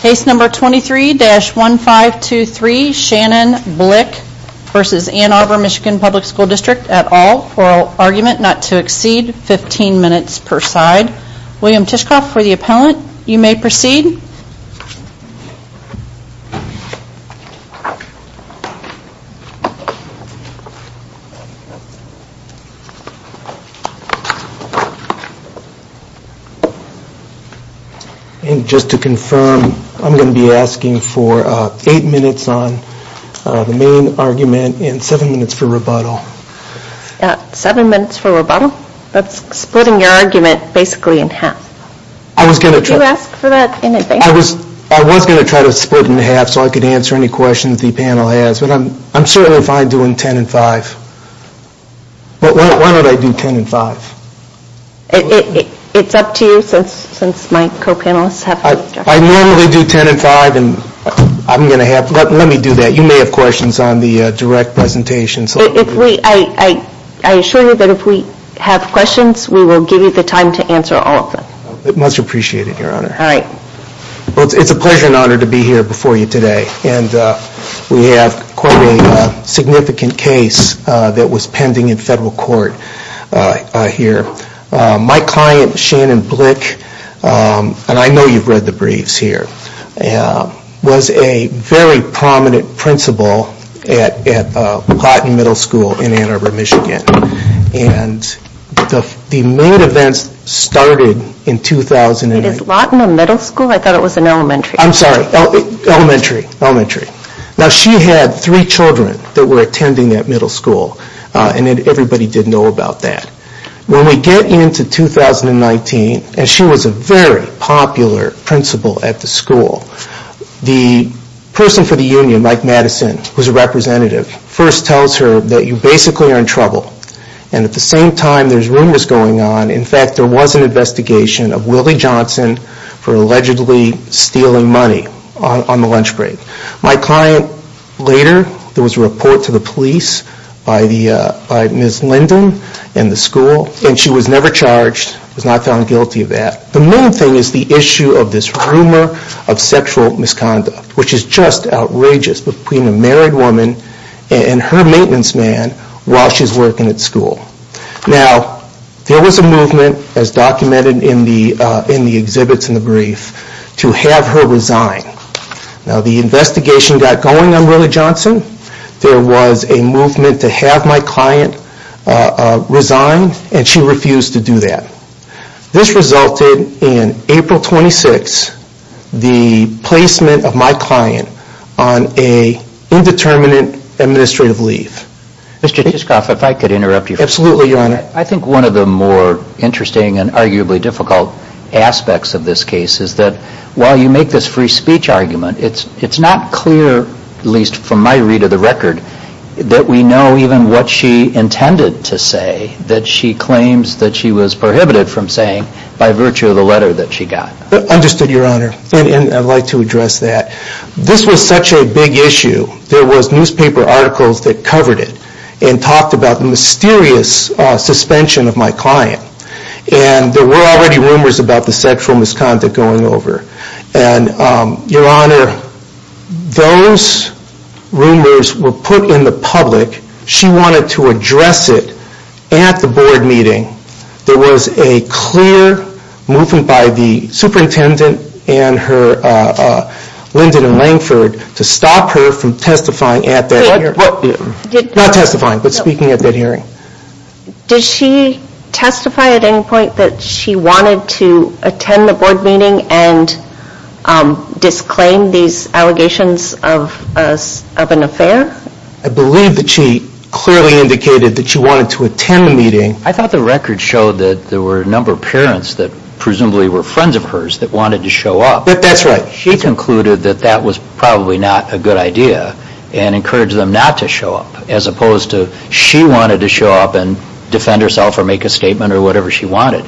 Case number 23-1523, Shannon Blick v. Ann Arbor MI Public School District, et al. Oral argument not to exceed 15 minutes per side. William Tishkoff for the appellant. You may proceed. And just to confirm, I'm going to be asking for 8 minutes on the main argument and 7 minutes for rebuttal. 7 minutes for rebuttal? That's splitting your argument basically in half. Did you ask for that in advance? I was going to try to split it in half so I could answer any questions the panel has, but I'm certainly fine doing 10 and 5. But why don't I do 10 and 5? It's up to you since my co-panelists have questions. I normally do 10 and 5 and I'm going to have, let me do that. You may have questions on the direct presentation. I assure you that if we have questions, we will give you the time to answer all of them. Much appreciated, Your Honor. All right. It's a pleasure and honor to be here before you today. We have quite a significant case that was pending in federal court here. My client, Shannon Blick, and I know you've read the briefs here, was a very prominent principal at Lawton Middle School in Ann Arbor, Michigan. And the main events started in 2009. Wait, is Lawton a middle school? I thought it was an elementary. I'm sorry, elementary. Now she had three children that were attending that middle school and everybody did know about that. When we get into 2019, and she was a very popular principal at the school, the person for the union, Mike Madison, who's a representative, first tells her that you basically are in trouble. And at the same time there's rumors going on. In fact, there was an investigation of Willie Johnson for allegedly stealing money on the lunch break. My client later, there was a report to the police by Ms. Linden and the school, and she was never charged, was not found guilty of that. The main thing is the issue of this rumor of sexual misconduct, which is just outrageous, between a married woman and her maintenance man while she's working at school. Now, there was a movement, as documented in the exhibits in the brief, to have her resign. Now, the investigation got going on Willie Johnson. There was a movement to have my client resign, and she refused to do that. This resulted in April 26, the placement of my client on an indeterminate administrative leave. Mr. Tischoff, if I could interrupt you for a moment. Absolutely, Your Honor. I think one of the more interesting and arguably difficult aspects of this case is that while you make this free speech argument, it's not clear, at least from my read of the record, that we know even what she intended to say, that she claims that she was prohibited from saying by virtue of the letter that she got. Understood, Your Honor. And I'd like to address that. This was such a big issue. There was newspaper articles that covered it and talked about the mysterious suspension of my client. And there were already rumors about the sexual misconduct going over. And, Your Honor, those rumors were put in the public. She wanted to address it at the board meeting. There was a clear movement by the superintendent and Lyndon Langford to stop her from testifying at that hearing. Not testifying, but speaking at that hearing. Did she testify at any point that she wanted to attend the board meeting and disclaim these allegations of an affair? I believe that she clearly indicated that she wanted to attend the meeting. I thought the record showed that there were a number of parents that presumably were friends of hers that wanted to show up. That's right. She concluded that that was probably not a good idea and encouraged them not to show up, as opposed to she wanted to show up and defend herself or make a statement or whatever she wanted.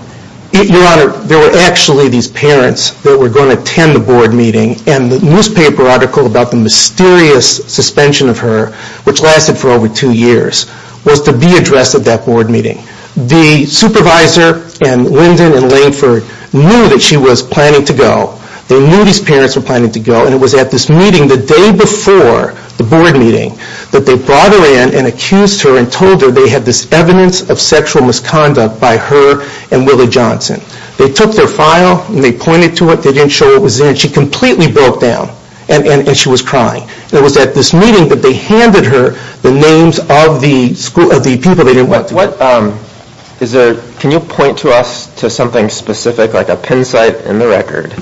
Your Honor, there were actually these parents that were going to attend the board meeting, and the newspaper article about the mysterious suspension of her, which lasted for over two years, was to be addressed at that board meeting. The supervisor and Lyndon and Langford knew that she was planning to go. They knew these parents were planning to go, and it was at this meeting the day before the board meeting that they brought her in and accused her and told her they had this evidence of sexual misconduct by her and Willie Johnson. They took their file and they pointed to it. They didn't show what was in it. She completely broke down, and she was crying. It was at this meeting that they handed her the names of the people they didn't want to. What is there? Can you point to us to something specific, like a pin site in the record,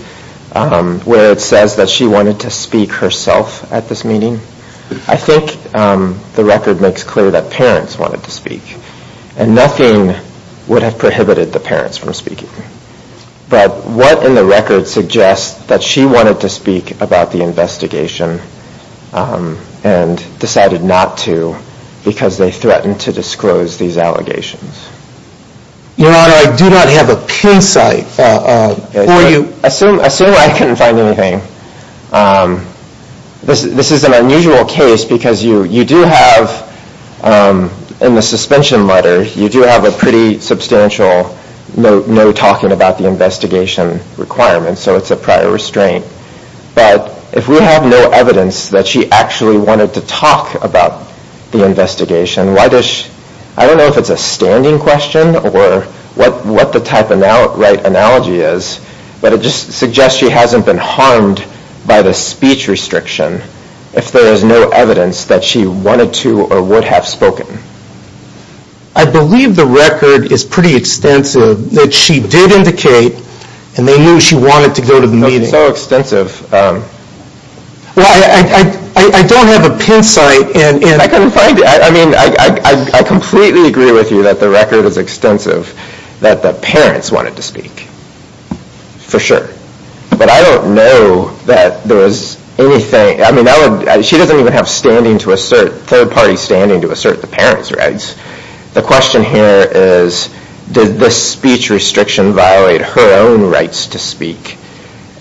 where it says that she wanted to speak herself at this meeting? I think the record makes clear that parents wanted to speak, and nothing would have prohibited the parents from speaking. But what in the record suggests that she wanted to speak about the investigation and decided not to because they threatened to disclose these allegations? Your Honor, I do not have a pin site for you. Assume I couldn't find anything. This is an unusual case because you do have, in the suspension letter, you do have a pretty substantial note talking about the investigation requirements, so it's a prior restraint. But if we have no evidence that she actually wanted to talk about the investigation, I don't know if it's a standing question or what the type of right analogy is, but it just suggests she hasn't been harmed by the speech restriction if there is no evidence that she wanted to or would have spoken. I believe the record is pretty extensive that she did indicate and they knew she wanted to go to the meeting. It's so extensive. Well, I don't have a pin site. I mean, I completely agree with you that the record is extensive that the parents wanted to speak, for sure. But I don't know that there was anything. I mean, she doesn't even have third-party standing to assert the parents' rights. The question here is, did the speech restriction violate her own rights to speak?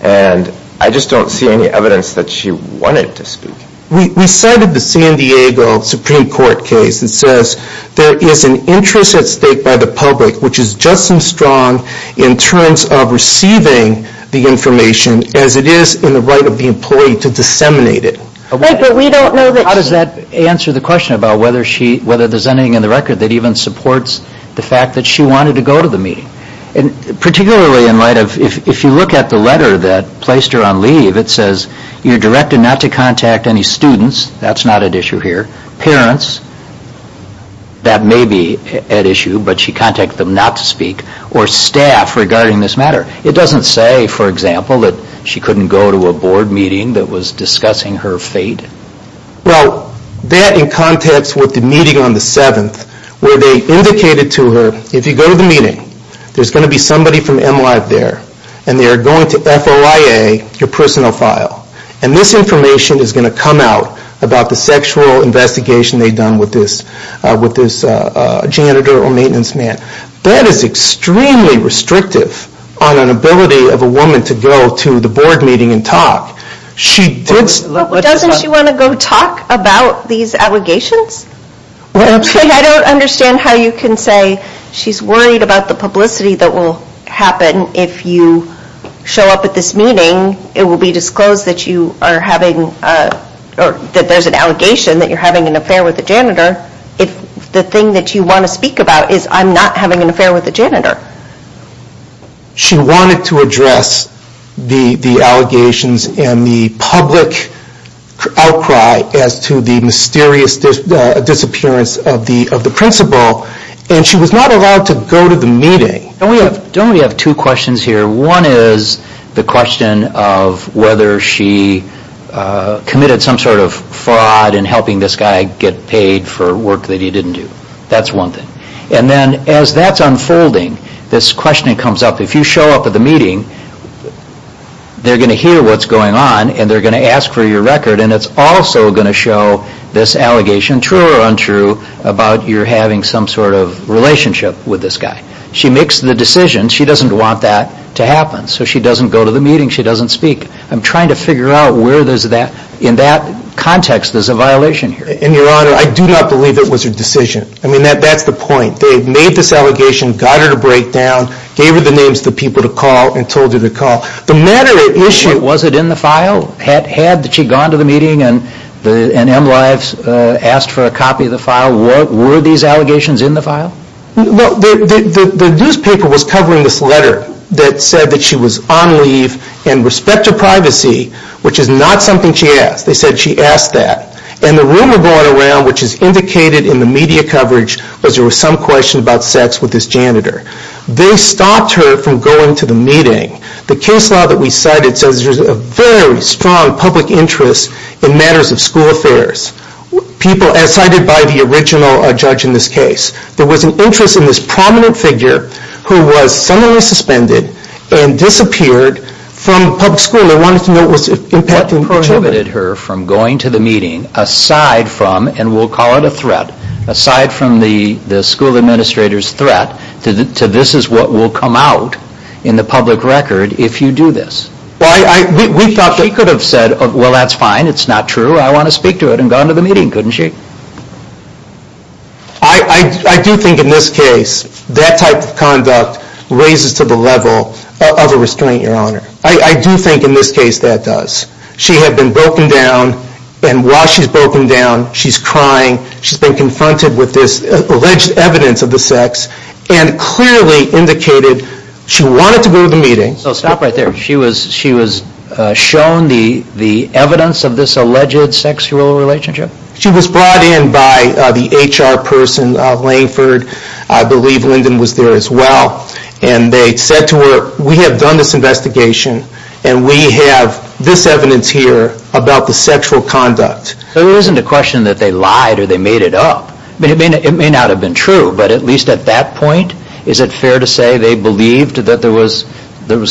And I just don't see any evidence that she wanted to speak. We cited the San Diego Supreme Court case that says there is an interest at stake by the public which is just as strong in terms of receiving the information as it is in the right of the employee to disseminate it. How does that answer the question about whether there's anything in the record that even supports the fact that she wanted to go to the meeting? Particularly in light of if you look at the letter that placed her on leave, it says you're directed not to contact any students. That's not at issue here. Parents, that may be at issue, but she contacted them not to speak, or staff regarding this matter. It doesn't say, for example, that she couldn't go to a board meeting that was discussing her fate? Well, that in context with the meeting on the 7th, where they indicated to her, if you go to the meeting, there's going to be somebody from MLive there, and they're going to FOIA your personal file. And this information is going to come out about the sexual investigation they'd done with this janitor or maintenance man. That is extremely restrictive on an ability of a woman to go to the board meeting and talk. Doesn't she want to go talk about these allegations? I don't understand how you can say she's worried about the publicity that will happen if you show up at this meeting. It will be disclosed that you are having, or that there's an allegation that you're having an affair with a janitor. The thing that you want to speak about is I'm not having an affair with a janitor. She wanted to address the allegations and the public outcry as to the mysterious disappearance of the principal, and she was not allowed to go to the meeting. Don't we have two questions here? One is the question of whether she committed some sort of fraud in helping this guy get paid for work that he didn't do. That's one thing. And then as that's unfolding, this question comes up. If you show up at the meeting, they're going to hear what's going on, and they're going to ask for your record, and it's also going to show this allegation, true or untrue, about your having some sort of relationship with this guy. She makes the decision. She doesn't want that to happen, so she doesn't go to the meeting. She doesn't speak. I'm trying to figure out where there's that. In that context, there's a violation here. And, Your Honor, I do not believe it was her decision. I mean, that's the point. They made this allegation, got her to break down, gave her the names of the people to call, and told her to call. The matter at issue— Was it in the file? Had she gone to the meeting and MLives asked for a copy of the file? Were these allegations in the file? The newspaper was covering this letter that said that she was on leave and respect to privacy, which is not something she asked. They said she asked that. And the rumor going around, which is indicated in the media coverage, was there was some question about sex with this janitor. They stopped her from going to the meeting. The case law that we cited says there's a very strong public interest in matters of school affairs, as cited by the original judge in this case. There was an interest in this prominent figure who was suddenly suspended and disappeared from public school and wanted to know what was impacting children. What prohibited her from going to the meeting, aside from, and we'll call it a threat, aside from the school administrator's threat, to this is what will come out in the public record if you do this? We thought that she could have said, well, that's fine, it's not true, I want to speak to it, and gone to the meeting, couldn't she? I do think in this case that type of conduct raises to the level of a restraint, Your Honor. I do think in this case that does. She had been broken down, and while she's broken down, she's crying, she's been confronted with this alleged evidence of the sex, and clearly indicated she wanted to go to the meeting. So stop right there. She was shown the evidence of this alleged sexual relationship? She was brought in by the HR person, Langford, I believe Lyndon was there as well, and they said to her, we have done this investigation, and we have this evidence here about the sexual conduct. There isn't a question that they lied or they made it up. It may not have been true, but at least at that point, is it fair to say they believed that there was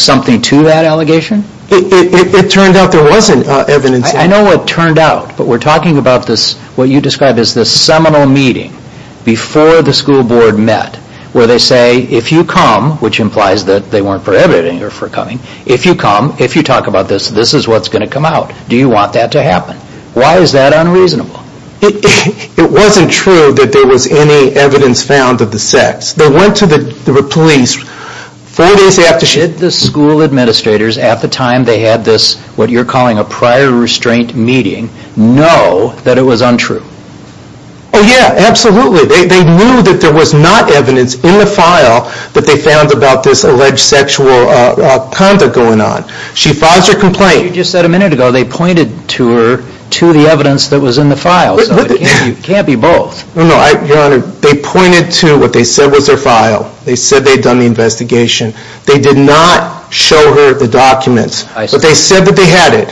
something to that allegation? It turned out there wasn't evidence. I know what turned out, but we're talking about this, what you described as this seminal meeting before the school board met, where they say, if you come, which implies that they weren't prohibiting her from coming, if you come, if you talk about this, this is what's going to come out. Do you want that to happen? Why is that unreasonable? It wasn't true that there was any evidence found of the sex. They went to the police four days after she... Did the school administrators at the time they had this, what you're calling a prior restraint meeting, know that it was untrue? Oh, yeah, absolutely. They knew that there was not evidence in the file that they found about this alleged sexual conduct going on. She files her complaint. You just said a minute ago they pointed to her to the evidence that was in the file. It can't be both. No, Your Honor, they pointed to what they said was her file. They said they'd done the investigation. They did not show her the documents. But they said that they had it,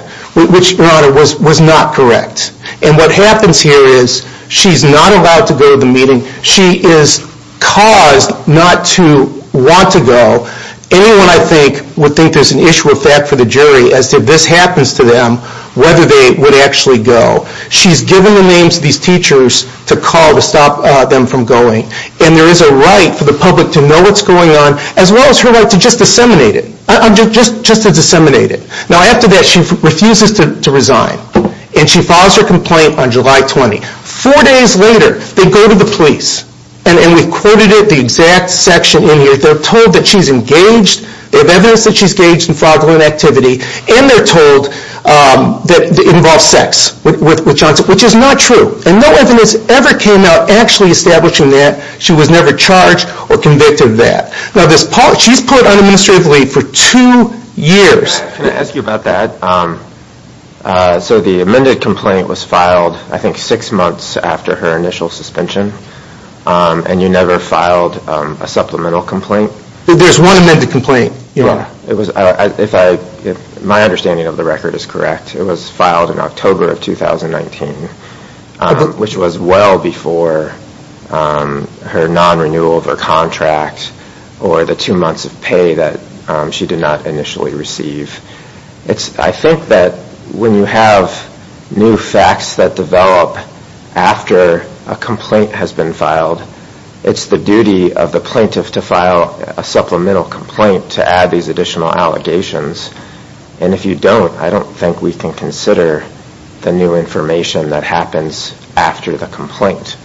which, Your Honor, was not correct. And what happens here is she's not allowed to go to the meeting. She is caused not to want to go. Anyone, I think, would think there's an issue of fact for the jury as to if this happens to them, whether they would actually go. She's given the names of these teachers to call to stop them from going. And there is a right for the public to know what's going on as well as her right to just disseminate it. Just to disseminate it. Now, after that, she refuses to resign. And she files her complaint on July 20. Four days later, they go to the police. And we've quoted it, the exact section in here. They're told that she's engaged. They have evidence that she's engaged in fraudulent activity. And they're told that it involves sex with Johnson, which is not true. And no evidence ever came out actually establishing that. She was never charged or convicted of that. Now, she's put on administrative leave for two years. Can I ask you about that? So the amended complaint was filed, I think, six months after her initial suspension. And you never filed a supplemental complaint? There's one amended complaint. My understanding of the record is correct. It was filed in October of 2019, which was well before her non-renewal of her contract or the two months of pay that she did not initially receive. I think that when you have new facts that develop after a complaint has been filed, it's the duty of the plaintiff to file a supplemental complaint to add these additional allegations. And if you don't, I don't think we can consider the new information that happens after the complaint.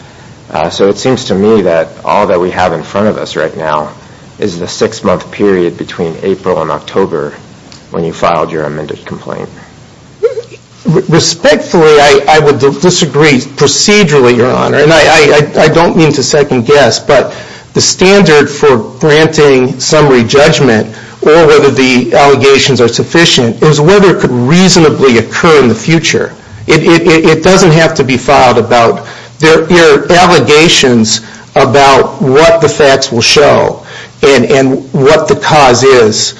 So it seems to me that all that we have in front of us right now is the six-month period between April and October when you filed your amended complaint. Respectfully, I would disagree. Procedurally, Your Honor, and I don't mean to second-guess, but the standard for granting summary judgment or whether the allegations are sufficient is whether it could reasonably occur in the future. It doesn't have to be filed about your allegations about what the facts will show and what the cause is.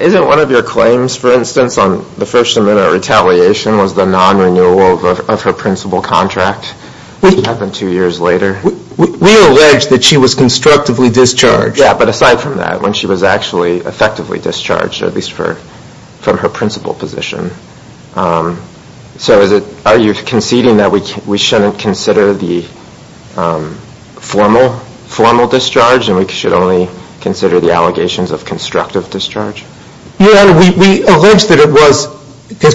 Isn't one of your claims, for instance, on the first amendment retaliation was the non-renewal of her principal contract that happened two years later? We allege that she was constructively discharged. Yeah, but aside from that, when she was actually effectively discharged, at least from her principal position. So are you conceding that we shouldn't consider the formal discharge and we should only consider the allegations of constructive discharge? Your Honor, we allege that it was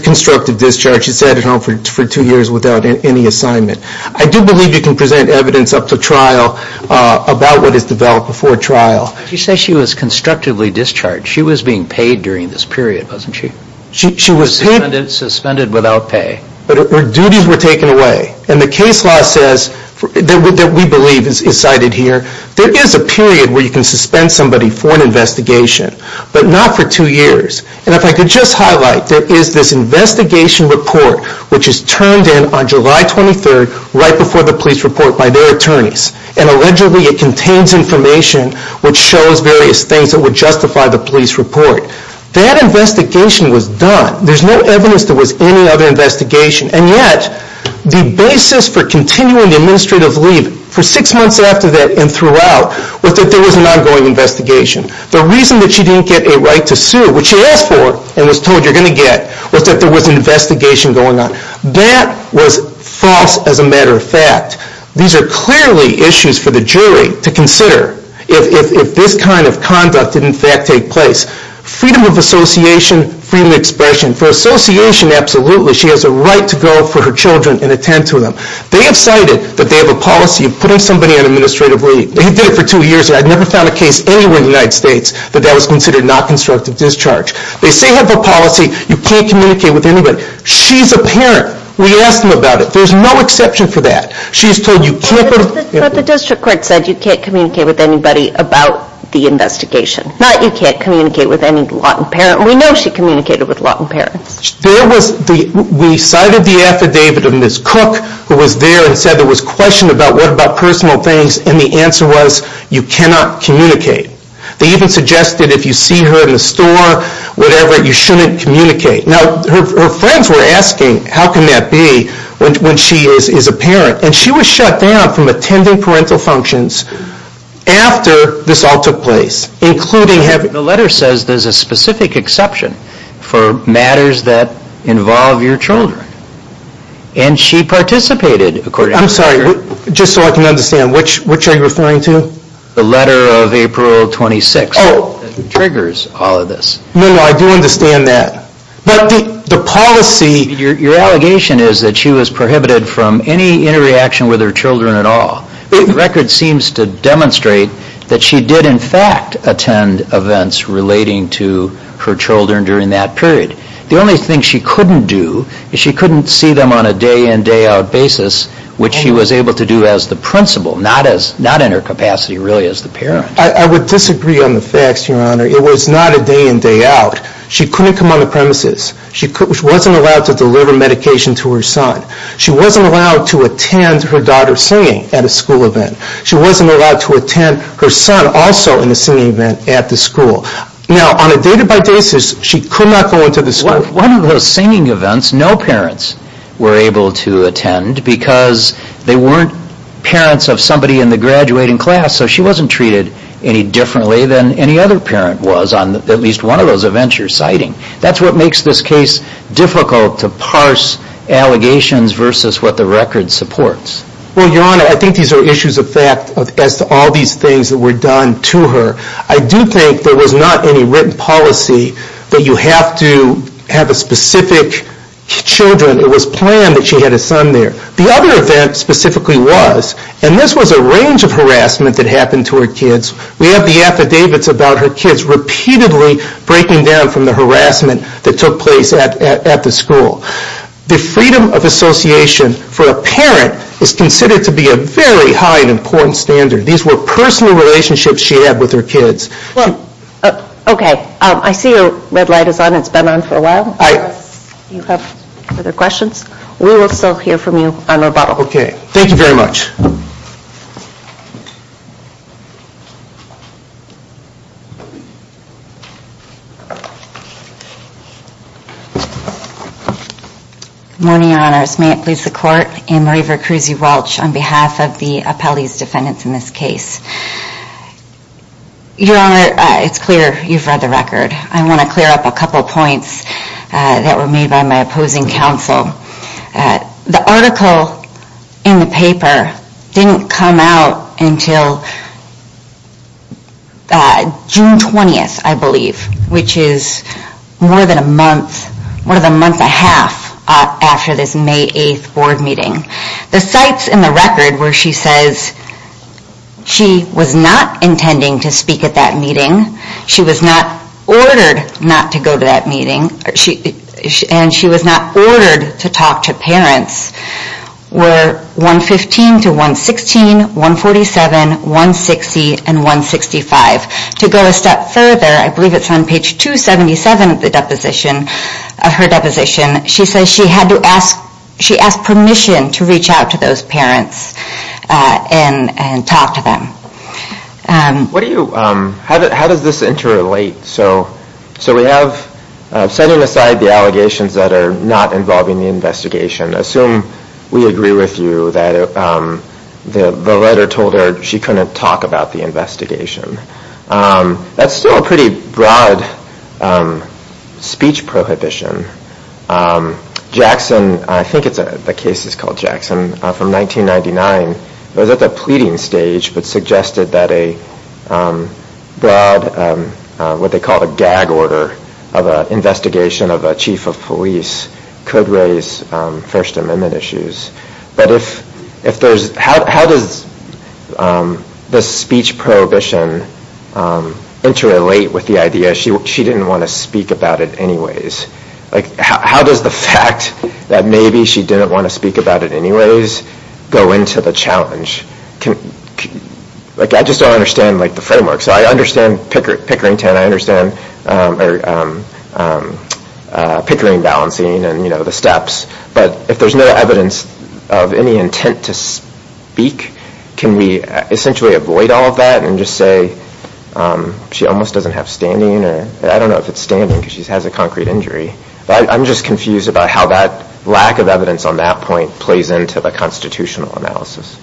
constructive discharge. She sat at home for two years without any assignment. I do believe you can present evidence up to trial about what is developed before trial. You say she was constructively discharged. She was being paid during this period, wasn't she? She was suspended without pay. But her duties were taken away. And the case law says, that we believe is cited here, there is a period where you can suspend somebody for an investigation, but not for two years. And if I could just highlight, there is this investigation report, which is turned in on July 23rd, right before the police report by their attorneys. And allegedly it contains information which shows various things that would justify the police report. That investigation was done. There's no evidence there was any other investigation. And yet, the basis for continuing the administrative leave for six months after that and throughout, was that there was an ongoing investigation. The reason that she didn't get a right to sue, which she asked for and was told you're going to get, was that there was an investigation going on. That was false as a matter of fact. These are clearly issues for the jury to consider if this kind of conduct did in fact take place. Freedom of association, freedom of expression. For association, absolutely, she has a right to go for her children and attend to them. They have cited that they have a policy of putting somebody on administrative leave. They did it for two years. I never found a case anywhere in the United States that that was considered not constructive discharge. They say they have a policy. You can't communicate with anybody. She's a parent. We asked them about it. There's no exception for that. She's told you can't go to. But the district court said you can't communicate with anybody about the investigation. Not you can't communicate with any Lawton parent. We know she communicated with Lawton parents. There was, we cited the affidavit of Ms. Cook who was there and said there was question about what about personal things. And the answer was you cannot communicate. They even suggested if you see her in the store, whatever, you shouldn't communicate. Now, her friends were asking how can that be when she is a parent? And she was shut down from attending parental functions after this all took place, including having The letter says there's a specific exception for matters that involve your children. And she participated, according to the letter. I'm sorry, just so I can understand, which are you referring to? The letter of April 26. Oh. That triggers all of this. No, no, I do understand that. But the policy Your allegation is that she was prohibited from any interaction with her children at all. The record seems to demonstrate that she did in fact attend events relating to her children during that period. The only thing she couldn't do is she couldn't see them on a day-in, day-out basis, which she was able to do as the principal, not in her capacity really as the parent. I would disagree on the facts, Your Honor. It was not a day-in, day-out. She couldn't come on the premises. She wasn't allowed to deliver medication to her son. She wasn't allowed to attend her daughter's singing at a school event. She wasn't allowed to attend her son also in a singing event at the school. Now, on a day-to-day basis, she could not go into the school. One of those singing events, no parents were able to attend because they weren't parents of somebody in the graduating class, so she wasn't treated any differently than any other parent was on at least one of those events you're citing. That's what makes this case difficult to parse allegations versus what the record supports. Well, Your Honor, I think these are issues of fact as to all these things that were done to her. I do think there was not any written policy that you have to have a specific children. It was planned that she had a son there. The other event specifically was, and this was a range of harassment that happened to her kids. We have the affidavits about her kids repeatedly breaking down from the harassment that took place at the school. The freedom of association for a parent is considered to be a very high and important standard. These were personal relationships she had with her kids. Okay. I see your red light is on. It's been on for a while. Do you have further questions? We will still hear from you on rebuttal. Okay. Thank you very much. Good morning, Your Honors. May it please the Court, I'm Marie Veracruzzi-Welch on behalf of the appellee's defendants in this case. Your Honor, it's clear you've read the record. I want to clear up a couple points that were made by my opposing counsel. The article in the paper didn't come out until June 20th, I believe, which is more than a month, more than a month and a half after this May 8th board meeting. The sites in the record where she says she was not intending to speak at that meeting, she was not ordered not to go to that meeting, and she was not ordered to talk to parents, were 115 to 116, 147, 160, and 165. To go a step further, I believe it's on page 277 of her deposition, she says she asked permission to reach out to those parents and talk to them. How does this interrelate? So we have, setting aside the allegations that are not involving the investigation, assume we agree with you that the letter told her she couldn't talk about the investigation. That's still a pretty broad speech prohibition. Jackson, I think the case is called Jackson, from 1999, was at the pleading stage, but suggested that a broad, what they call a gag order of an investigation of a chief of police could raise First Amendment issues. But how does this speech prohibition interrelate with the idea she didn't want to speak about it anyways? How does the fact that maybe she didn't want to speak about it anyways go into the challenge? I just don't understand the framework. So I understand pickering balancing and the steps, but if there's no evidence of any intent to speak, can we essentially avoid all of that and just say she almost doesn't have standing? I don't know if it's standing because she has a concrete injury. But I'm just confused about how that lack of evidence on that point plays into the constitutional analysis.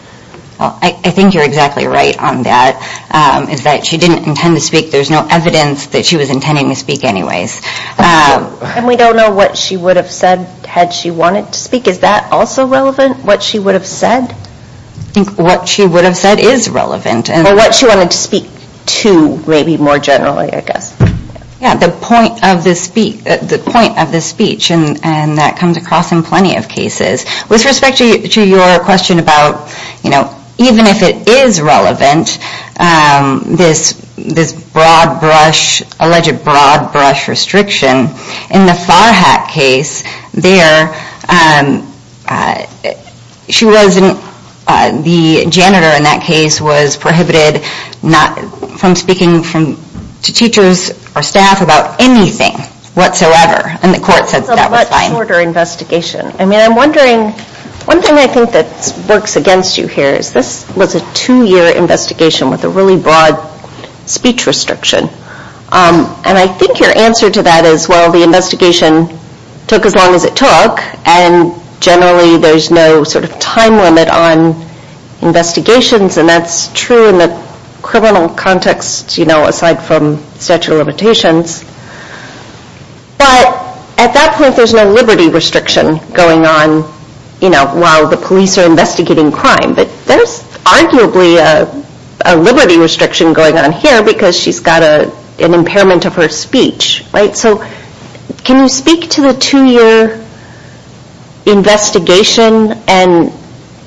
I think you're exactly right on that, is that she didn't intend to speak. There's no evidence that she was intending to speak anyways. And we don't know what she would have said had she wanted to speak. Is that also relevant, what she would have said? I think what she would have said is relevant. Or what she wanted to speak to maybe more generally, I guess. The point of the speech, and that comes across in plenty of cases. With respect to your question about even if it is relevant, this alleged broad brush restriction, in the Farhack case, the janitor in that case was prohibited from speaking to teachers or staff about anything whatsoever. And the court said that was fine. It's a much shorter investigation. I'm wondering, one thing I think that works against you here is this was a two-year investigation with a really broad speech restriction. And I think your answer to that is, well, the investigation took as long as it took, and generally there's no time limit on investigations. And that's true in the criminal context, aside from statute of limitations. But at that point, there's no liberty restriction going on while the police are investigating crime. But there's arguably a liberty restriction going on here because she's got an impairment of her speech. So can you speak to the two-year investigation and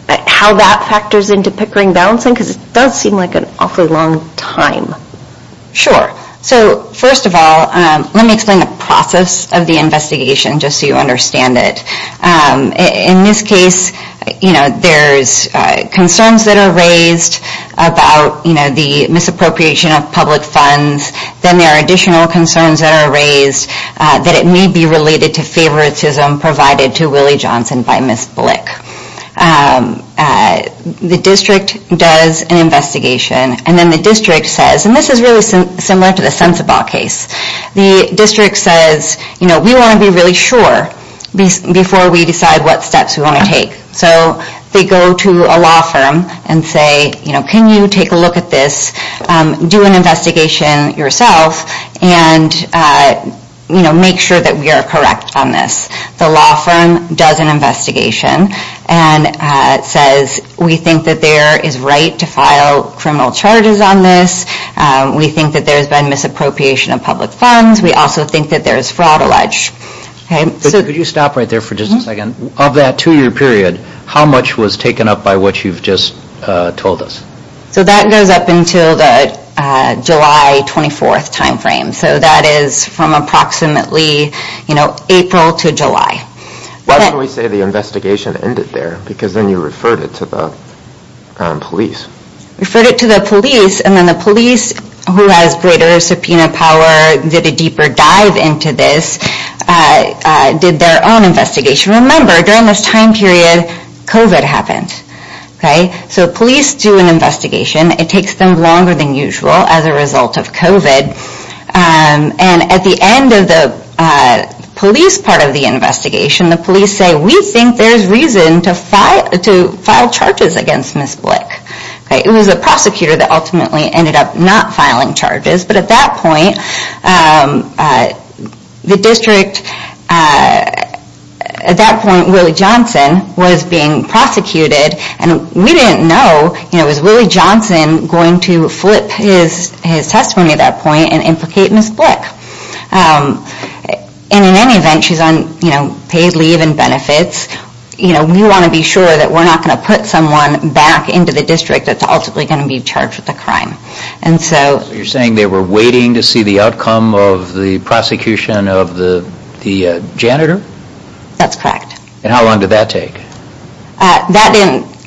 how that factors into Pickering balancing? Because it does seem like an awfully long time. Sure. So first of all, let me explain the process of the investigation just so you understand it. In this case, there's concerns that are raised about the misappropriation of public funds. Then there are additional concerns that are raised that it may be related to favoritism provided to Willie Johnson by Ms. Blick. The district does an investigation, and then the district says, and this is really similar to the Sunsabot case, the district says, you know, we want to be really sure before we decide what steps we want to take. So they go to a law firm and say, you know, can you take a look at this, do an investigation yourself, and make sure that we are correct on this. The law firm does an investigation and says, we think that there is right to file criminal charges on this. We think that there's been misappropriation of public funds. We also think that there's fraud alleged. Could you stop right there for just a second? Of that two-year period, how much was taken up by what you've just told us? So that goes up until the July 24th timeframe. So that is from approximately, you know, April to July. Why did we say the investigation ended there? Because then you referred it to the police. Referred it to the police, and then the police, who has greater subpoena power, did a deeper dive into this, did their own investigation. Remember, during this time period, COVID happened. So police do an investigation. It takes them longer than usual as a result of COVID. And at the end of the police part of the investigation, the police say, we think there's reason to file charges against Ms. Blick. It was a prosecutor that ultimately ended up not filing charges. But at that point, the district, at that point, Willie Johnson was being prosecuted. And we didn't know, you know, was Willie Johnson going to flip his testimony at that point and implicate Ms. Blick? And in any event, she's on, you know, paid leave and benefits. You know, we want to be sure that we're not going to put someone back into the district that's ultimately going to be charged with the crime. So you're saying they were waiting to see the outcome of the prosecution of the janitor? That's correct. And how long did that take?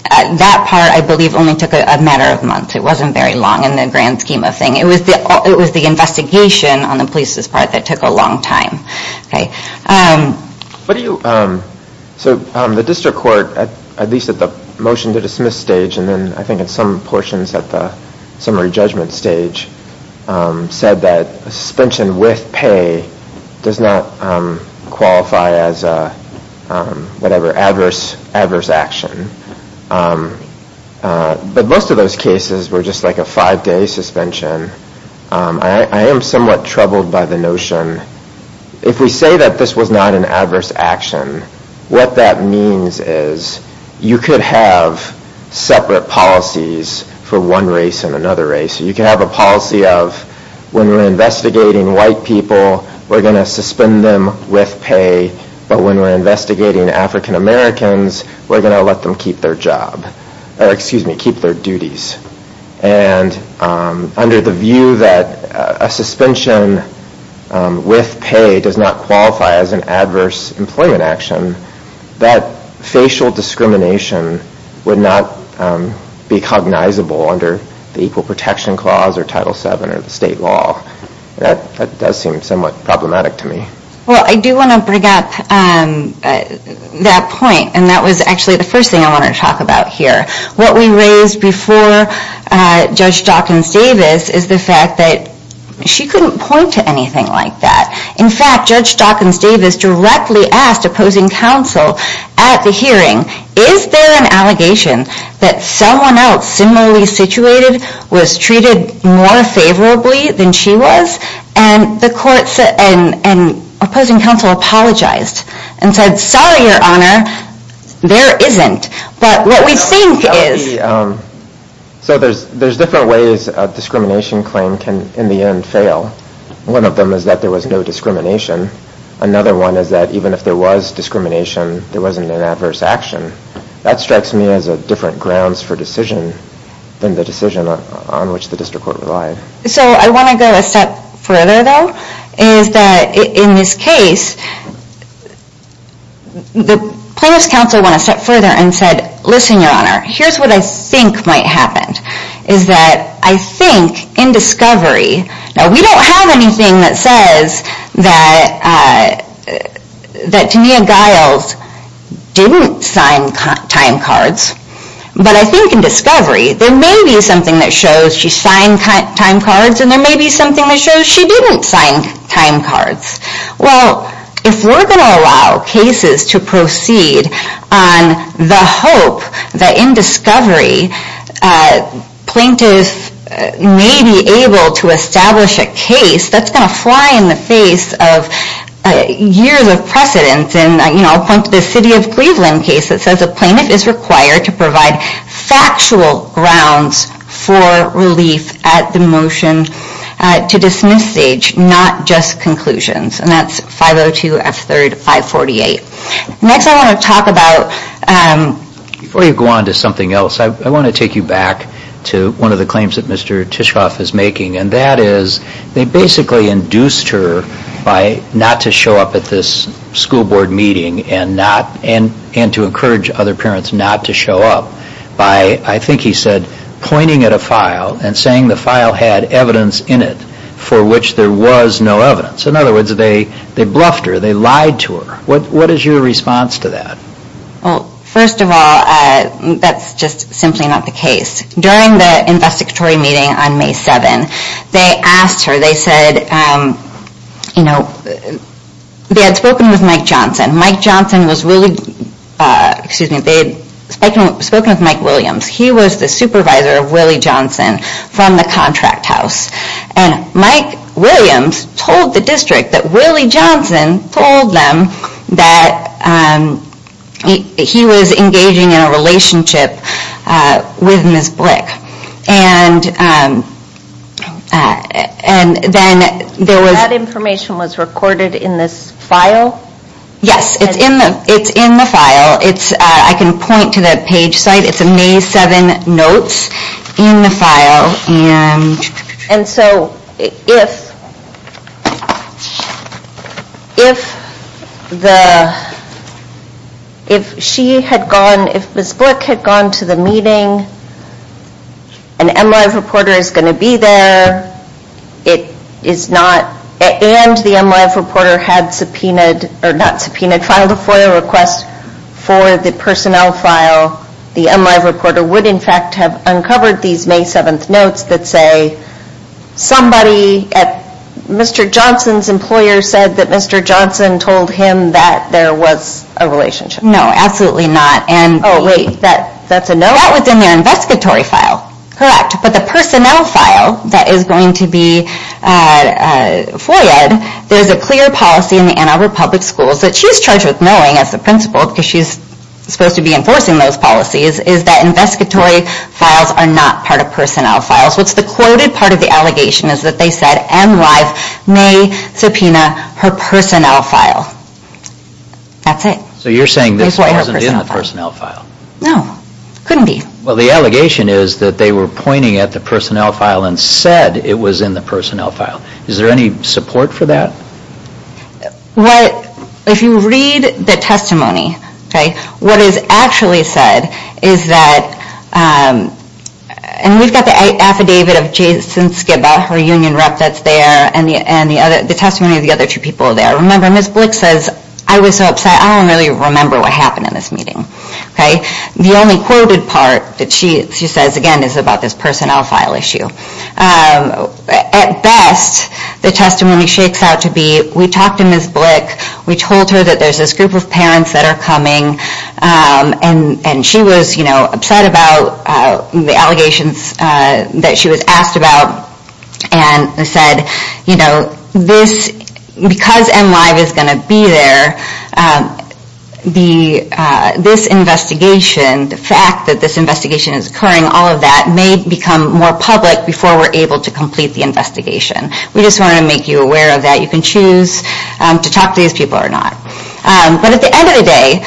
That part, I believe, only took a matter of months. It wasn't very long in the grand scheme of things. It was the investigation on the police's part that took a long time. So the district court, at least at the motion to dismiss stage, and then I think at some portions at the summary judgment stage, said that a suspension with pay does not qualify as a, whatever, adverse action. But most of those cases were just like a five-day suspension. I am somewhat troubled by the notion, if we say that this was not an adverse action, what that means is you could have separate policies for one race and another race. You can have a policy of when we're investigating white people, we're going to suspend them with pay, but when we're investigating African Americans, we're going to let them keep their job, or excuse me, keep their duties. And under the view that a suspension with pay does not qualify as an adverse employment action, that facial discrimination would not be cognizable under the Equal Protection Clause or Title VII or the state law. That does seem somewhat problematic to me. Well, I do want to bring up that point, and that was actually the first thing I wanted to talk about here. What we raised before Judge Dawkins-Davis is the fact that she couldn't point to anything like that. In fact, Judge Dawkins-Davis directly asked opposing counsel at the hearing, is there an allegation that someone else similarly situated was treated more favorably than she was? And opposing counsel apologized and said, sorry, Your Honor, there isn't. But what we think is... So there's different ways a discrimination claim can, in the end, fail. One of them is that there was no discrimination. Another one is that even if there was discrimination, there wasn't an adverse action. That strikes me as different grounds for decision than the decision on which the district court relied. So I want to go a step further, though, is that in this case, the plaintiff's counsel went a step further and said, listen, Your Honor, here's what I think might happen, is that I think in discovery... Now, we don't have anything that says that Tania Giles didn't sign time cards. But I think in discovery, there may be something that shows she signed time cards and there may be something that shows she didn't sign time cards. Well, if we're going to allow cases to proceed on the hope that in discovery plaintiffs may be able to establish a case, that's going to fly in the face of years of precedence. And I'll point to the City of Cleveland case that says a plaintiff is required to provide factual grounds for relief at the motion to dismiss stage, not just conclusions. And that's 502 F. 3rd 548. Next, I want to talk about... Before you go on to something else, I want to take you back to one of the claims that Mr. Tishoff is making, and that is they basically induced her by not to show up at this school board meeting and to encourage other parents not to show up by, I think he said, pointing at a file and saying the file had evidence in it for which there was no evidence. In other words, they bluffed her, they lied to her. What is your response to that? Well, first of all, that's just simply not the case. During the investigatory meeting on May 7, they asked her, they said... You know, they had spoken with Mike Johnson. Mike Johnson was really... Excuse me, they had spoken with Mike Williams. He was the supervisor of Willie Johnson from the contract house. And Mike Williams told the district that Willie Johnson told them that he was engaging in a relationship with Ms. Blick. And then there was... That information was recorded in this file? Yes, it's in the file. I can point to the page site. It's a May 7 notes in the file. And so if... If the... If she had gone... If Ms. Blick had gone to the meeting, an MLive reporter is going to be there. It is not... And the MLive reporter had subpoenaed... Or not subpoenaed, filed a FOIA request for the personnel file. The MLive reporter would, in fact, have uncovered these May 7 notes that say, somebody at Mr. Johnson's employer said that Mr. Johnson told him that there was a relationship. No, absolutely not. Oh, wait, that's a no? That was in their investigatory file. Correct, but the personnel file that is going to be FOIAed, there's a clear policy in the Ann Arbor Public Schools that she's charged with knowing as the principal because she's supposed to be enforcing those policies, is that investigatory files are not part of personnel files. What's the quoted part of the allegation is that they said MLive may subpoena her personnel file. That's it. So you're saying this wasn't in the personnel file? No, couldn't be. Well, the allegation is that they were pointing at the personnel file and said it was in the personnel file. Is there any support for that? What... If you read the testimony, what is actually said is that... And we've got the affidavit of Jason Skibba, her union rep that's there, and the testimony of the other two people there. Remember, Ms. Blick says, I was so upset, I don't really remember what happened in this meeting. The only quoted part that she says, again, is about this personnel file issue. At best, the testimony shakes out to be, we talked to Ms. Blick, we told her that there's this group of parents that are coming, and she was upset about the allegations that she was asked about, and said, you know, because M-Live is going to be there, this investigation, the fact that this investigation is occurring, all of that may become more public before we're able to complete the investigation. We just want to make you aware of that. You can choose to talk to these people or not. But at the end of the day,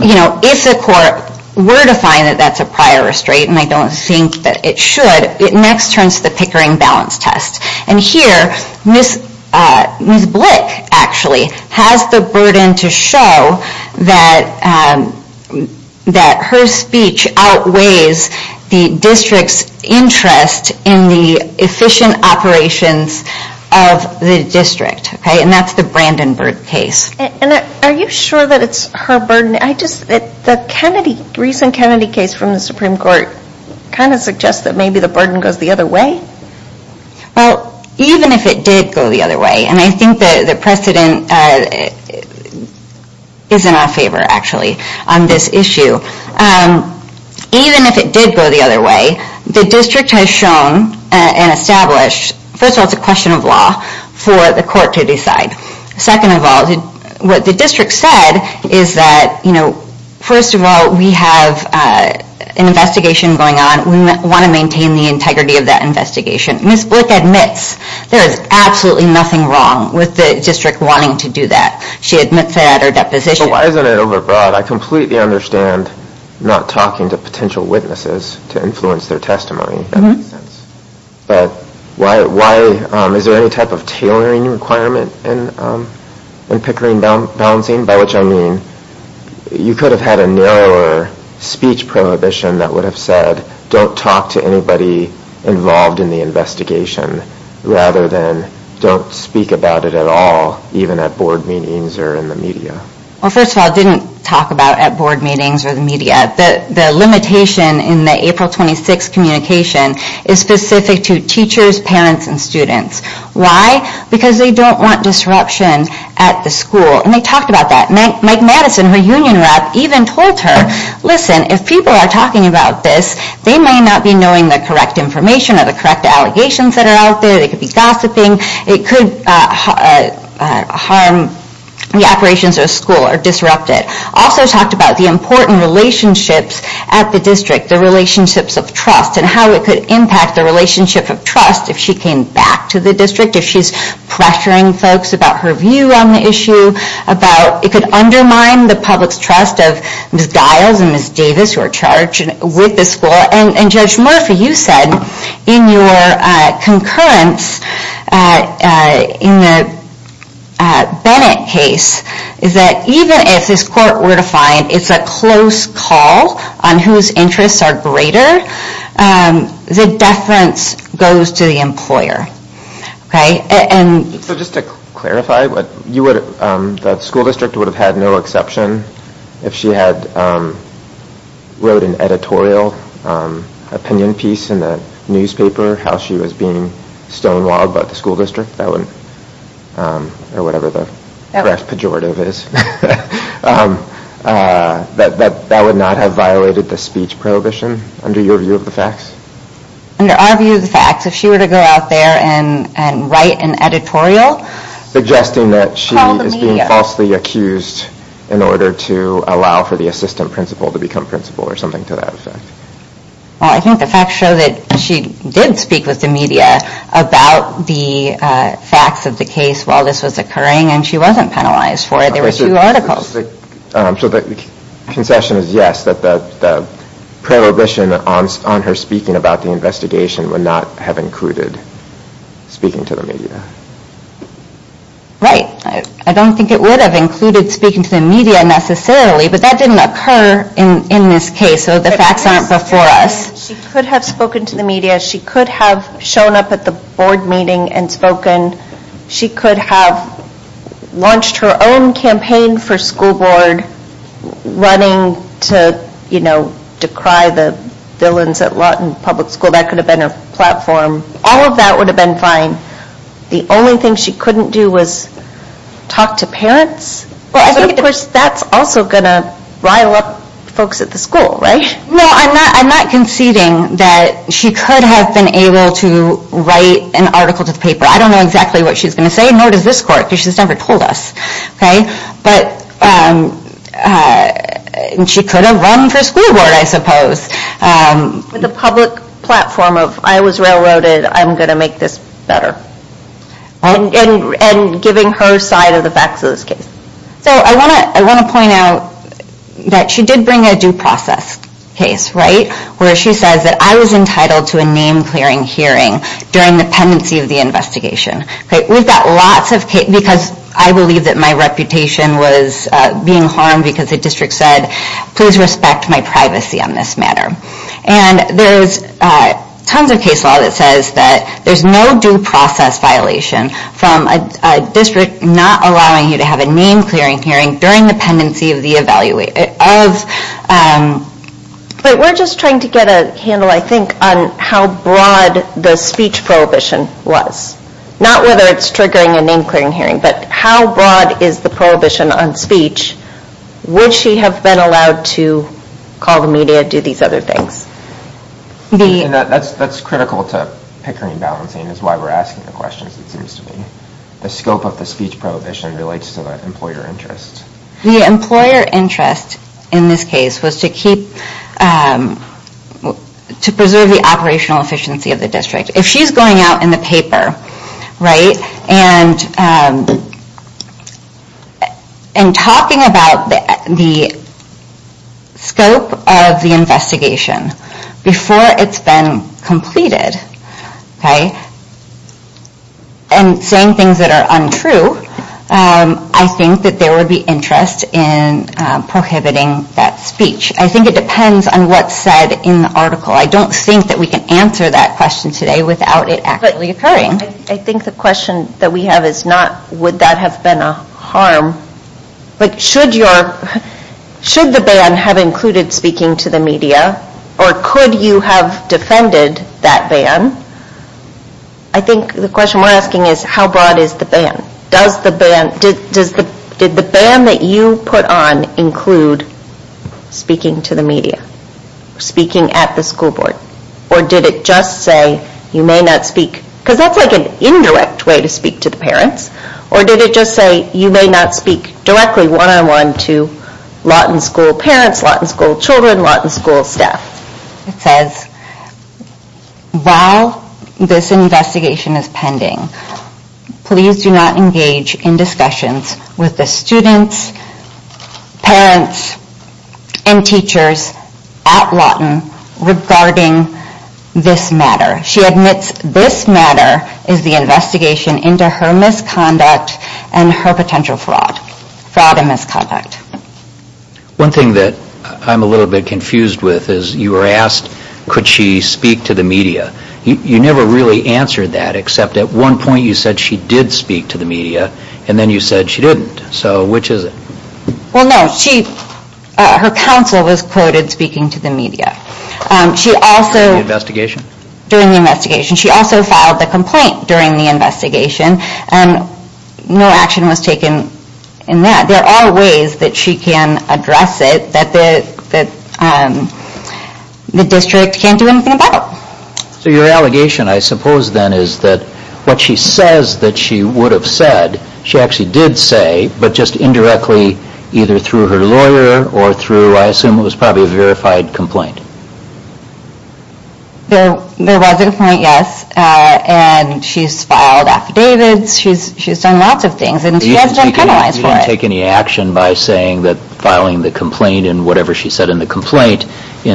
if the court were to find that that's a prior restraint, and I don't think that it should, it next turns to the Pickering Balance Test. And here, Ms. Blick, actually, has the burden to show that her speech outweighs the district's interest in the efficient operations of the district. And that's the Brandenburg case. And are you sure that it's her burden? I just, the Kennedy, recent Kennedy case from the Supreme Court, kind of suggests that maybe the burden goes the other way? Well, even if it did go the other way, and I think that the precedent is in our favor, actually, on this issue. Even if it did go the other way, the district has shown and established, first of all, it's a question of law for the court to decide. Second of all, what the district said is that, you know, first of all, we have an investigation going on. We want to maintain the integrity of that investigation. Ms. Blick admits there is absolutely nothing wrong with the district wanting to do that. She admits that at her deposition. But why isn't it overbroad? I completely understand not talking to potential witnesses to influence their testimony. That makes sense. But why, is there any type of tailoring requirement in Pickering balancing? By which I mean, you could have had a narrower speech prohibition that would have said, don't talk to anybody involved in the investigation, rather than don't speak about it at all, even at board meetings or in the media. Well, first of all, it didn't talk about at board meetings or the media. The limitation in the April 26th communication is specific to teachers, parents, and students. Why? Because they don't want disruption at the school. And they talked about that. Mike Madison, her union rep, even told her, listen, if people are talking about this, they may not be knowing the correct information or the correct allegations that are out there. They could be gossiping. It could harm the operations of the school or disrupt it. Also talked about the important relationships at the district, the relationships of trust, and how it could impact the relationship of trust if she came back to the district, if she's pressuring folks about her view on the issue. It could undermine the public's trust of Ms. Giles and Ms. Davis, who are charged with the school. And Judge Murphy, you said in your concurrence in the Bennett case, that even if this court were to find it's a close call on whose interests are greater, the deference goes to the employer. So just to clarify, the school district would have had no exception if she had wrote an editorial opinion piece in the newspaper how she was being stonewalled by the school district, or whatever the correct pejorative is, that that would not have violated the speech prohibition, under your view of the facts? Under our view of the facts, if she were to go out there and write an editorial... Suggesting that she is being falsely accused in order to allow for the assistant principal to become principal, or something to that effect. Well, I think the facts show that she did speak with the media about the facts of the case while this was occurring, and she wasn't penalized for it. There were two articles. So the concession is yes, that the prohibition on her speaking about the investigation would not have included speaking to the media. Right. I don't think it would have included speaking to the media necessarily, but that didn't occur in this case, so the facts aren't before us. She could have spoken to the media. She could have shown up at the board meeting and spoken. She could have launched her own campaign for school board running to decry the villains at Lawton Public School. That could have been her platform. All of that would have been fine. The only thing she couldn't do was talk to parents? I think that's also going to rile up folks at the school, right? No, I'm not conceding that she could have been able to write an article to the paper. I don't know exactly what she's going to say, nor does this court, because she's never told us. But she could have run for school board, I suppose. With a public platform of I was railroaded, I'm going to make this better. And giving her side of the facts of this case. So I want to point out that she did bring a due process case, right? Where she says that I was entitled to a name-clearing hearing during the pendency of the investigation. We've got lots of cases, because I believe that my reputation was being harmed because the district said, please respect my privacy on this matter. And there's tons of case law that says that there's no due process violation from a district not allowing you to have a name-clearing hearing during the pendency of the evaluation. But we're just trying to get a handle, I think, on how broad the speech prohibition was. Not whether it's triggering a name-clearing hearing, but how broad is the prohibition on speech? Would she have been allowed to call the media, do these other things? And that's critical to pickering and balancing is why we're asking the questions, it seems to me. The scope of the speech prohibition relates to the employer interest. The employer interest in this case was to keep, to preserve the operational efficiency of the district. If she's going out in the paper, right, and talking about the scope of the investigation before it's been completed, okay, and saying things that are untrue, I think that there would be interest in prohibiting that speech. I think it depends on what's said in the article. I don't think that we can answer that question today, without it actually occurring. I think the question that we have is not, would that have been a harm? Should the ban have included speaking to the media, or could you have defended that ban? I think the question we're asking is, how broad is the ban? Does the ban, did the ban that you put on include speaking to the media, speaking at the school board? Or did it just say, you may not speak, because that's like an indirect way to speak to the parents, or did it just say, you may not speak directly one-on-one to Lawton school parents, Lawton school children, Lawton school staff? It says, while this investigation is pending, please do not engage in discussions with the students, parents, and teachers at Lawton regarding this matter. She admits this matter is the investigation into her misconduct and her potential fraud. Fraud and misconduct. One thing that I'm a little bit confused with is you were asked, could she speak to the media? You never really answered that, except at one point you said she did speak to the media, and then you said she didn't. So, which is it? Well, no, she, her counsel was quoted speaking to the media. She also... During the investigation? During the investigation. She also filed a complaint during the investigation, and no action was taken in that. There are ways that she can address it that the district can't do anything about. So your allegation, I suppose then, is that what she says that she would have said, she actually did say, but just indirectly, either through her lawyer or through, I assume it was probably a verified complaint. There was a complaint, yes, and she's filed affidavits, she's done lots of things, and she has been penalized for it. You didn't take any action by saying that filing the complaint and whatever she said in the complaint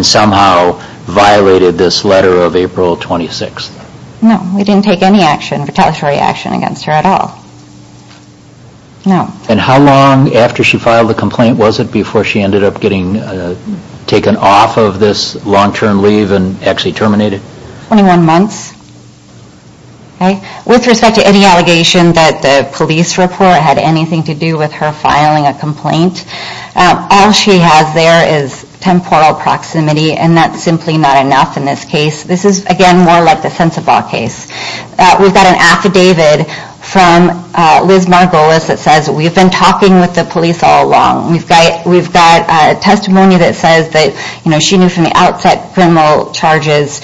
somehow violated this letter of April 26th? No, we didn't take any action, retaliatory action against her at all. No. And how long after she filed the complaint was it before she ended up getting taken off of this long-term leave and actually terminated? 21 months. With respect to any allegation that the police report had anything to do with her filing a complaint, all she has there is temporal proximity, and that's simply not enough in this case. This is, again, more like the Sensabaugh case. We've got an affidavit from Liz Margolis that says we've been talking with the police all along, and we've got testimony that says that she knew from the outset criminal charges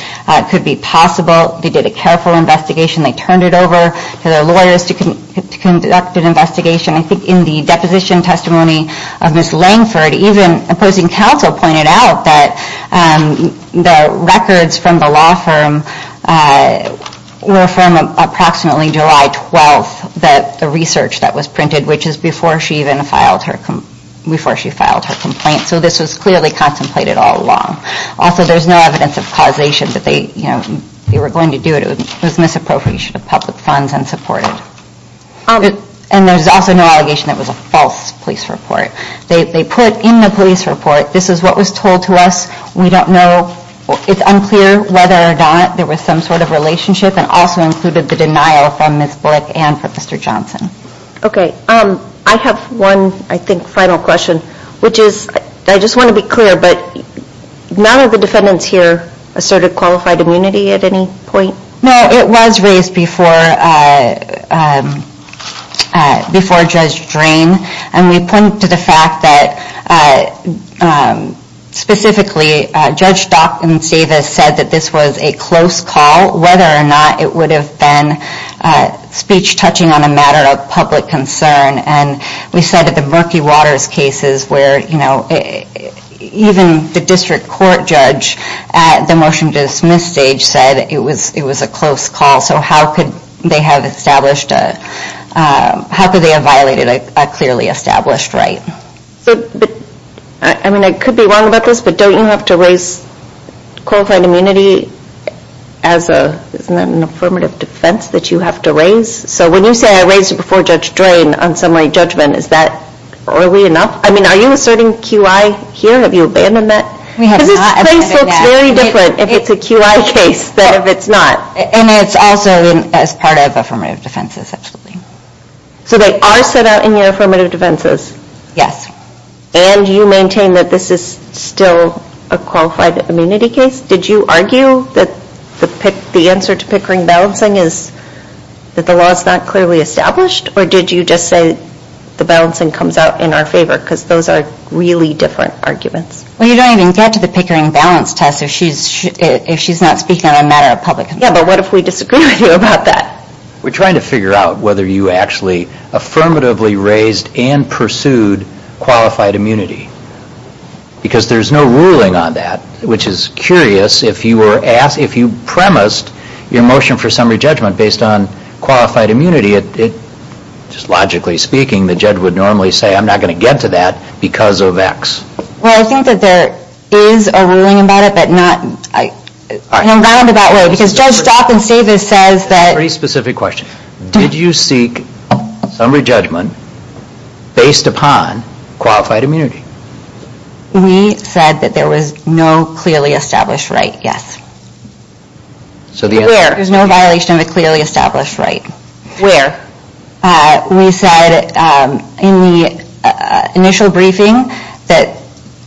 could be possible, they did a careful investigation, they turned it over to their lawyers to conduct an investigation. I think in the deposition testimony of Ms. Langford, even opposing counsel pointed out that the records from the law firm were from approximately July 12th, the research that was printed, which is before she even filed her complaint. So this was clearly contemplated all along. Also, there's no evidence of causation that they were going to do it. It was misappropriation of public funds and supported. And there's also no allegation that it was a false police report. They put in the police report, this is what was told to us, we don't know, it's unclear whether or not there was some sort of relationship, and also included the denial from Ms. Blick and from Mr. Johnson. Okay, I have one, I think, final question, which is, I just want to be clear, but none of the defendants here asserted qualified immunity at any point? No, it was raised before Judge Drain, and we point to the fact that specifically Judge Dock and Davis said that this was a close call, whether or not it would have been speech touching on a matter of public concern, and we said that the Murky Waters cases where even the district court judge at the motion to dismiss stage said it was a close call, so how could they have established, how could they have violated a clearly established right? I mean, I could be wrong about this, but don't you have to raise qualified immunity as an affirmative defense, that you have to raise? So when you say I raised it before Judge Drain on summary judgment, is that early enough? I mean, are you asserting QI here? Have you abandoned that? Because this case looks very different if it's a QI case than if it's not. And it's also as part of affirmative defenses, absolutely. So they are set out in your affirmative defenses? Yes. And you maintain that this is still a qualified immunity case? Did you argue that the answer to Pickering balancing is that the law is not clearly established, or did you just say the balancing comes out in our favor? Because those are really different arguments. Well, you don't even get to the Pickering balance test if she's not speaking on a matter of public opinion. Yeah, but what if we disagree with you about that? We're trying to figure out whether you actually affirmatively raised and pursued qualified immunity, because there's no ruling on that, which is curious if you were asked, your motion for summary judgment based on qualified immunity, just logically speaking, the judge would normally say, I'm not going to get to that because of X. Well, I think that there is a ruling about it, but not in a roundabout way. Because Judge Stopp and Stavis says that... Very specific question. Did you seek summary judgment based upon qualified immunity? We said that there was no clearly established right, yes. Where? There's no violation of a clearly established right. Where? We said in the initial briefing that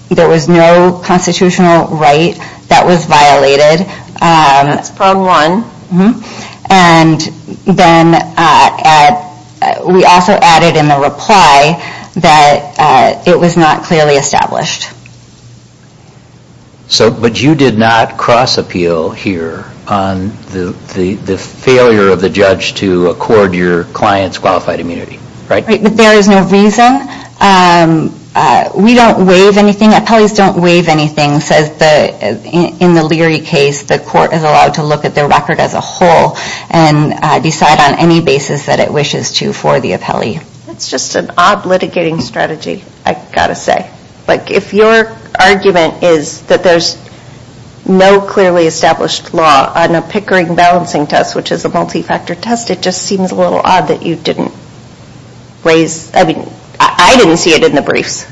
there was no constitutional right that was violated. That's problem one. And then we also added in the reply that it was not clearly established. But you did not cross appeal here on the failure of the judge to accord your client's qualified immunity, right? Right, but there is no reason. We don't waive anything. Appellees don't waive anything. In the Leary case, the court is allowed to look at their record as a whole and decide on any basis that it wishes to for the appellee. That's just an odd litigating strategy, I've got to say. But if your argument is that there's no clearly established law on a Pickering balancing test, which is a multi-factor test, it just seems a little odd that you didn't raise... I mean, I didn't see it in the briefs.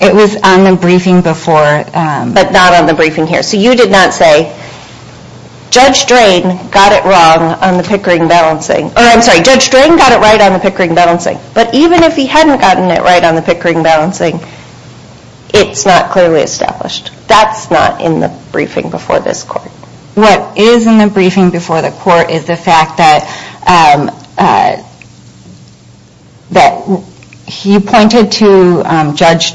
It was on the briefing before. But not on the briefing here. So you did not say, Judge Drain got it wrong on the Pickering balancing. Or I'm sorry, Judge Drain got it right on the Pickering balancing. But even if he hadn't gotten it right on the Pickering balancing, it's not clearly established. That's not in the briefing before this court. What is in the briefing before the court is the fact that he pointed to Judge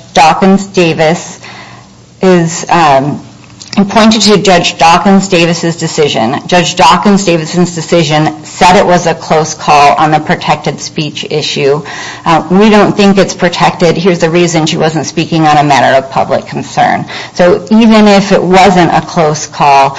Dawkins-Davis's decision. Judge Dawkins-Davison's decision said it was a close call on the protected speech issue. We don't think it's protected. Here's the reason. She wasn't speaking on a matter of public concern. So even if it wasn't a close call,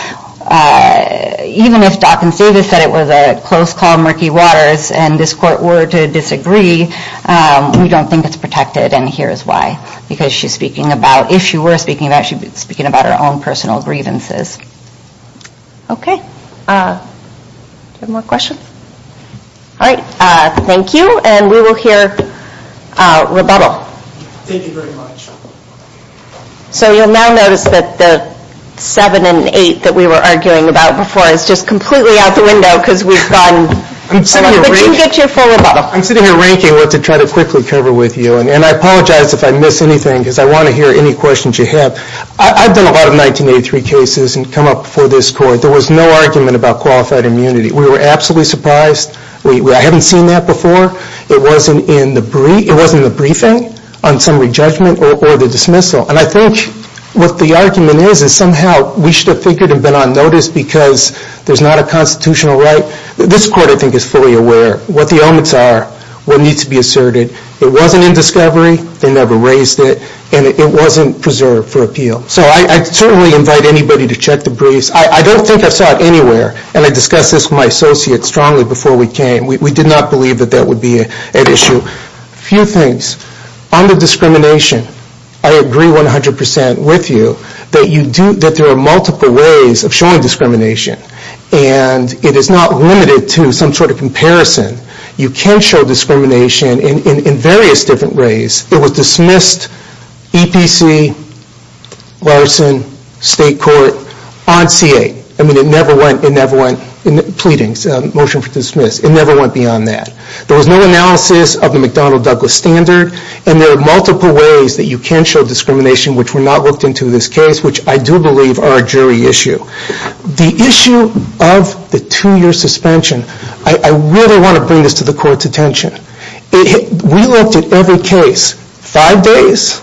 even if Dawkins-Davis said it was a close call, murky waters, and this court were to disagree, we don't think it's protected. And here's why. Because if she were speaking about it, she'd be speaking about her own personal grievances. Okay. Any more questions? All right. Thank you. And we will hear rebuttal. Thank you very much. So you'll now notice that the 7 and 8 that we were arguing about before is just completely out the window because we've gotten... But you can get your full rebuttal. I'm sitting here ranking what to try to quickly cover with you. And I apologize if I miss anything because I want to hear any questions you have. I've done a lot of 1983 cases and come up before this court. There was no argument about qualified immunity. We were absolutely surprised. I haven't seen that before. It wasn't in the briefing on summary judgment or the dismissal. And I think what the argument is is somehow we should have figured and been on notice because there's not a constitutional right. This court, I think, is fully aware. What the elements are will need to be asserted. It wasn't in discovery. They never raised it. And it wasn't preserved for appeal. So I'd certainly invite anybody to check the briefs. I don't think I saw it anywhere. And I discussed this with my associates strongly before we came. We did not believe that that would be an issue. A few things. On the discrimination, I agree 100% with you that there are multiple ways of showing discrimination. And it is not limited to some sort of comparison. You can show discrimination in various different ways. It was dismissed, EPC, Larson, State Court, on C-8. I mean, it never went in pleadings, motion for dismiss. It never went beyond that. There was no analysis of the McDonnell-Douglas standard. And there are multiple ways that you can show discrimination which were not looked into in this case, which I do believe are a jury issue. The issue of the two-year suspension, I really want to bring this to the court's attention. We looked at every case five days,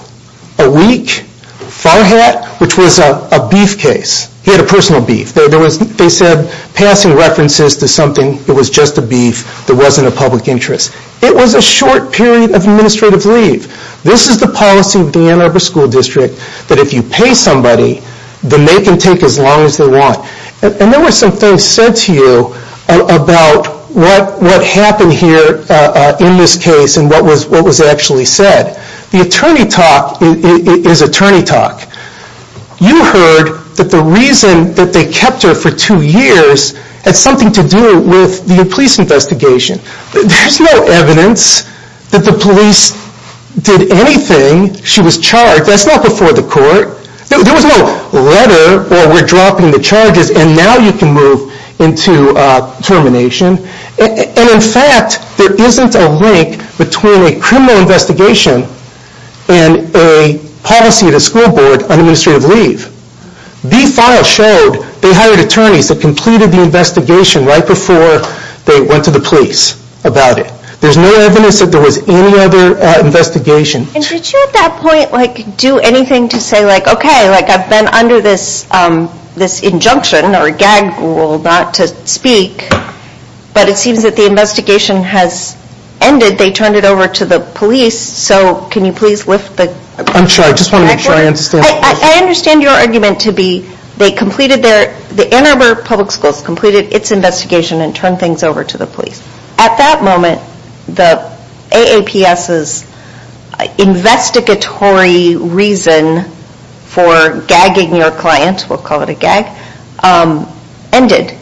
a week, Farhat, which was a beef case. He had a personal beef. They said passing references to something, it was just a beef, there wasn't a public interest. It was a short period of administrative leave. This is the policy of the Ann Arbor School District that if you pay somebody, then they can take as long as they want. And there were some things said to you about what happened here in this case and what was actually said. The attorney talk is attorney talk. You heard that the reason that they kept her for two years had something to do with the police investigation. There's no evidence that the police did anything. She was charged. That's not before the court. There was no letter, or we're dropping the charges, and now you can move into termination. And in fact, there isn't a link between a criminal investigation and a policy at a school board on administrative leave. The file showed they hired attorneys that completed the investigation right before they went to the police about it. There's no evidence that there was any other investigation. And did you at that point do anything to say, okay, I've been under this injunction or gag rule not to speak, but it seems that the investigation has ended. They turned it over to the police. So can you please lift the record? I'm sorry. I just want to make sure I understand. I understand your argument to be they completed their, the Ann Arbor Public Schools completed its investigation and turned things over to the police. At that moment, the AAPS's investigatory reason for gagging your client, we'll call it a gag, ended.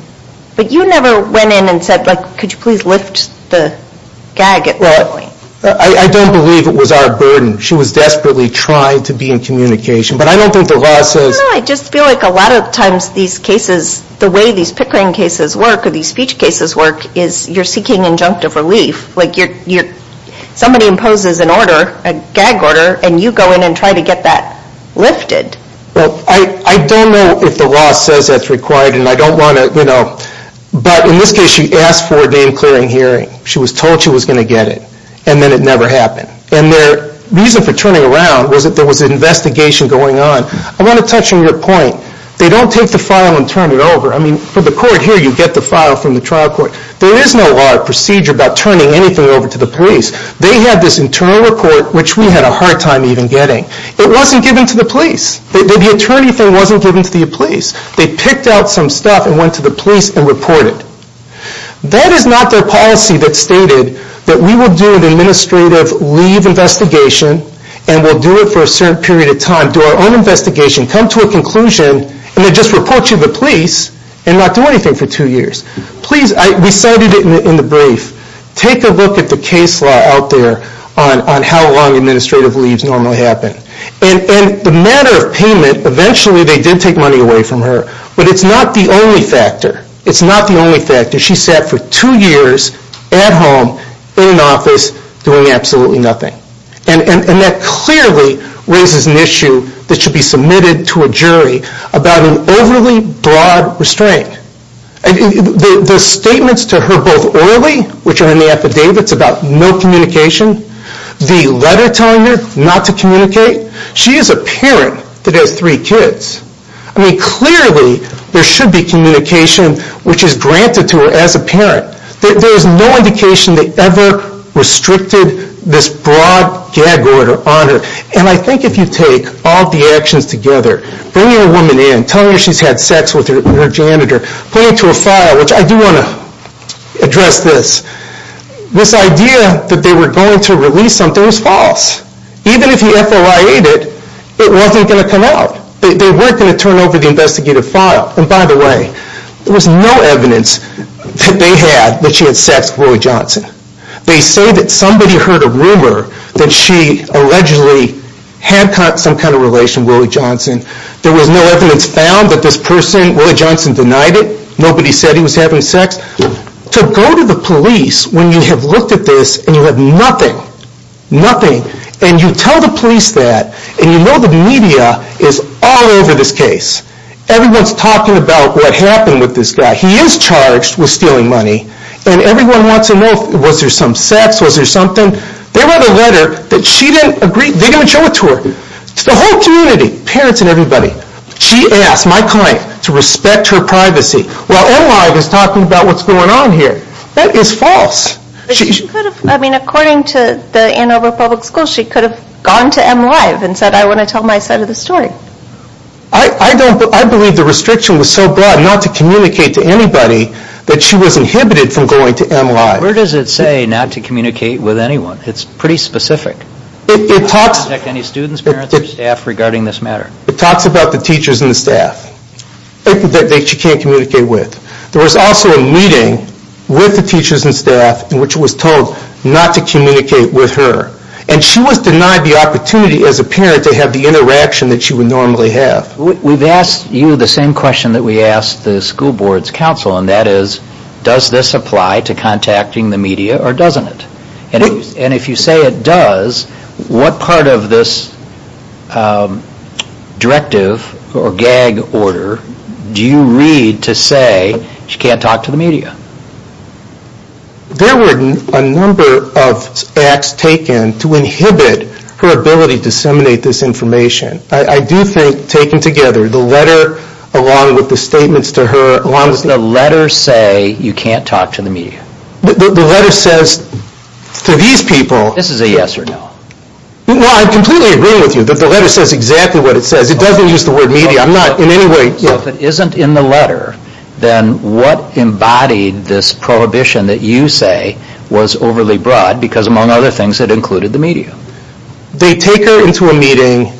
But you never went in and said, like, could you please lift the gag at that point? I don't believe it was our burden. She was desperately trying to be in communication. But I don't think the law says... I don't know. I just feel like a lot of times these cases, the way these pickering cases work or these speech cases work is you're seeking injunctive relief. Like, somebody imposes an order, a gag order, and you go in and try to get that lifted. Well, I don't know if the law says that's required, and I don't want to, you know... But in this case, she asked for a name-clearing hearing. She was told she was going to get it, and then it never happened. And their reason for turning around was that there was an investigation going on. I want to touch on your point. They don't take the file and turn it over. I mean, for the court here, you get the file from the trial court. There is no hard procedure about turning anything over to the police. They had this internal report, which we had a hard time even getting. It wasn't given to the police. The attorney thing wasn't given to the police. They picked out some stuff and went to the police and reported. That is not their policy that stated that we will do an administrative leave investigation and we'll do it for a certain period of time, do our own investigation, come to a conclusion, and then just report you to the police and not do anything for two years. Please, we cited it in the brief. Take a look at the case law out there on how long administrative leaves normally happen. And the matter of payment, eventually they did take money away from her, but it's not the only factor. It's not the only factor. She sat for two years at home in an office doing absolutely nothing. And that clearly raises an issue that should be submitted to a jury about an overly broad restraint. The statements to her, both orally, which are in the affidavits about no communication, the letter telling her not to communicate, she is a parent that has three kids. I mean, clearly there should be communication which is granted to her as a parent. There is no indication they ever restricted this broad gag order on her. And I think if you take all the actions together, bringing a woman in, telling her she's had sex with her janitor, putting it to a file, which I do want to address this, this idea that they were going to release something was false. Even if he FOIA-ed it, it wasn't going to come out. They weren't going to turn over the investigative file. And by the way, there was no evidence that they had that she had sex with Willie Johnson. They say that somebody heard a rumor that she allegedly had some kind of relation to Willie Johnson. There was no evidence found that this person, Willie Johnson, denied it. Nobody said he was having sex. To go to the police when you have looked at this and you have nothing, nothing, and you tell the police that, and you know the media is all over this case. Everyone's talking about what happened with this guy. He is charged with stealing money. And everyone wants to know, was there some sex? Was there something? They wrote a letter that she didn't agree. They're going to show it to her. It's the whole community, parents and everybody. She asked my client to respect her privacy while MLive is talking about what's going on here. That is false. She could have, I mean, according to the Ann Arbor Public Schools, she could have gone to MLive and said, I want to tell my side of the story. I believe the restriction was so broad not to communicate to anybody that she was inhibited from going to MLive. Where does it say not to communicate with anyone? It's pretty specific. Any students, parents or staff regarding this matter? It talks about the teachers and the staff that she can't communicate with. There was also a meeting with the teachers and staff in which it was told not to communicate with her. And she was denied the opportunity as a parent to have the interaction that she would normally have. We've asked you the same question that we asked the school board's counsel, and that is, does this apply to contacting the media or doesn't it? And if you say it does, what part of this directive or gag order do you read to say she can't talk to the media? There were a number of acts taken to inhibit her ability to disseminate this information. I do think, taken together, the letter along with the statements to her... Does the letter say you can't talk to the media? The letter says to these people... This is a yes or no. Well, I completely agree with you that the letter says exactly what it says. It doesn't use the word media. I'm not in any way... So if it isn't in the letter, then what embodied this prohibition that you say was overly broad because, among other things, it included the media? They take her into a meeting.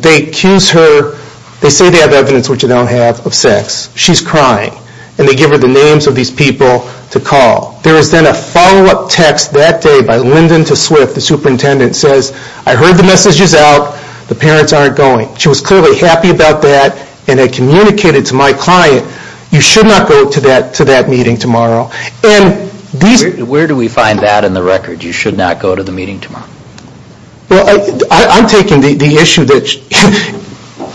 They accuse her. They say they have evidence, which they don't have, of sex. She's crying. And they give her the names of these people to call. There was then a follow-up text that day by Lyndon to Swift, the superintendent, says, I heard the messages out. The parents aren't going. She was clearly happy about that and had communicated to my client, you should not go to that meeting tomorrow. And these... Where do we find that in the record, you should not go to the meeting tomorrow? Well, I'm taking the issue that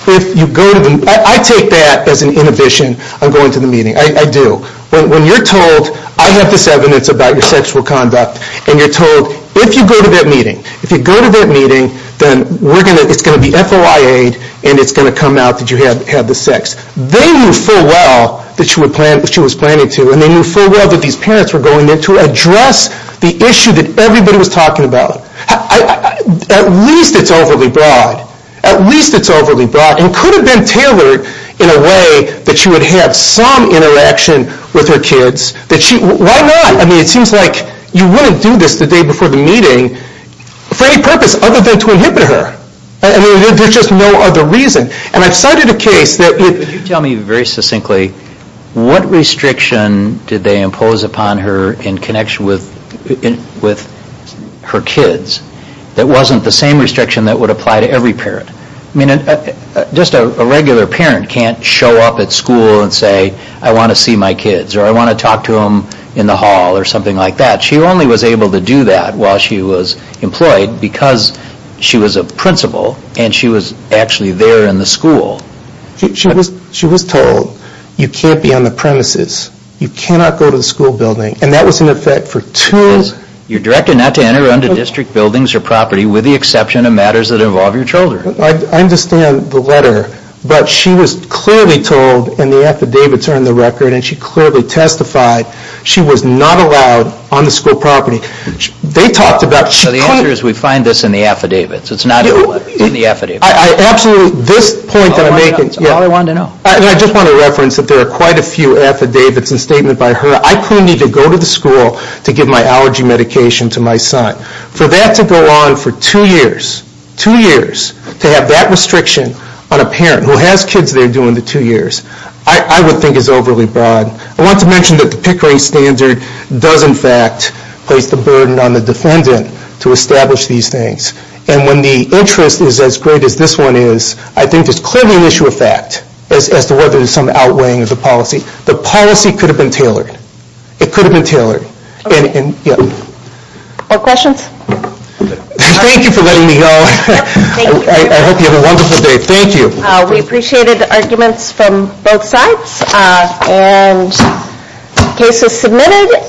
if you go to... I take that as an inhibition on going to the meeting. I do. When you're told, I have this evidence about your sexual conduct, and you're told, if you go to that meeting, if you go to that meeting, then it's going to be FOIA-ed and it's going to come out that you have the sex. They knew full well that she was planning to, and they knew full well that these parents were going there to address the issue that everybody was talking about. At least it's overly broad. At least it's overly broad and could have been tailored in a way that she would have some interaction with her kids. Why not? I mean, it seems like you wouldn't do this the day before the meeting for any purpose other than to inhibit her. I mean, there's just no other reason. And I've cited a case that... Could you tell me very succinctly what restriction did they impose upon her in connection with her kids that wasn't the same restriction that would apply to every parent? I mean, just a regular parent can't show up at school and say, I want to see my kids or I want to talk to them in the hall or something like that. She only was able to do that while she was employed because she was a principal and she was actually there in the school. She was told, you can't be on the premises, you cannot go to the school building, and that was in effect for two... You're directed not to enter into district buildings or property with the exception of matters that involve your children. I understand the letter, but she was clearly told, and the affidavits are in the record, and she clearly testified she was not allowed on the school property. They talked about... The answer is we find this in the affidavits. It's not in the affidavits. Absolutely. This point that I'm making... That's all I wanted to know. I just want to reference that there are quite a few affidavits and statements by her. I clearly need to go to the school to give my allergy medication to my son. For that to go on for two years, two years, to have that restriction on a parent who has kids there during the two years, I would think is overly broad. I want to mention that the Pickering Standard does in fact place the burden on the defendant to establish these things. And when the interest is as great as this one is, I think there's clearly an issue of fact as to whether there's some outweighing of the policy. The policy could have been tailored. It could have been tailored. Any questions? Thank you for letting me know. I hope you have a wonderful day. Thank you. We appreciated the arguments from both sides. And the case is submitted.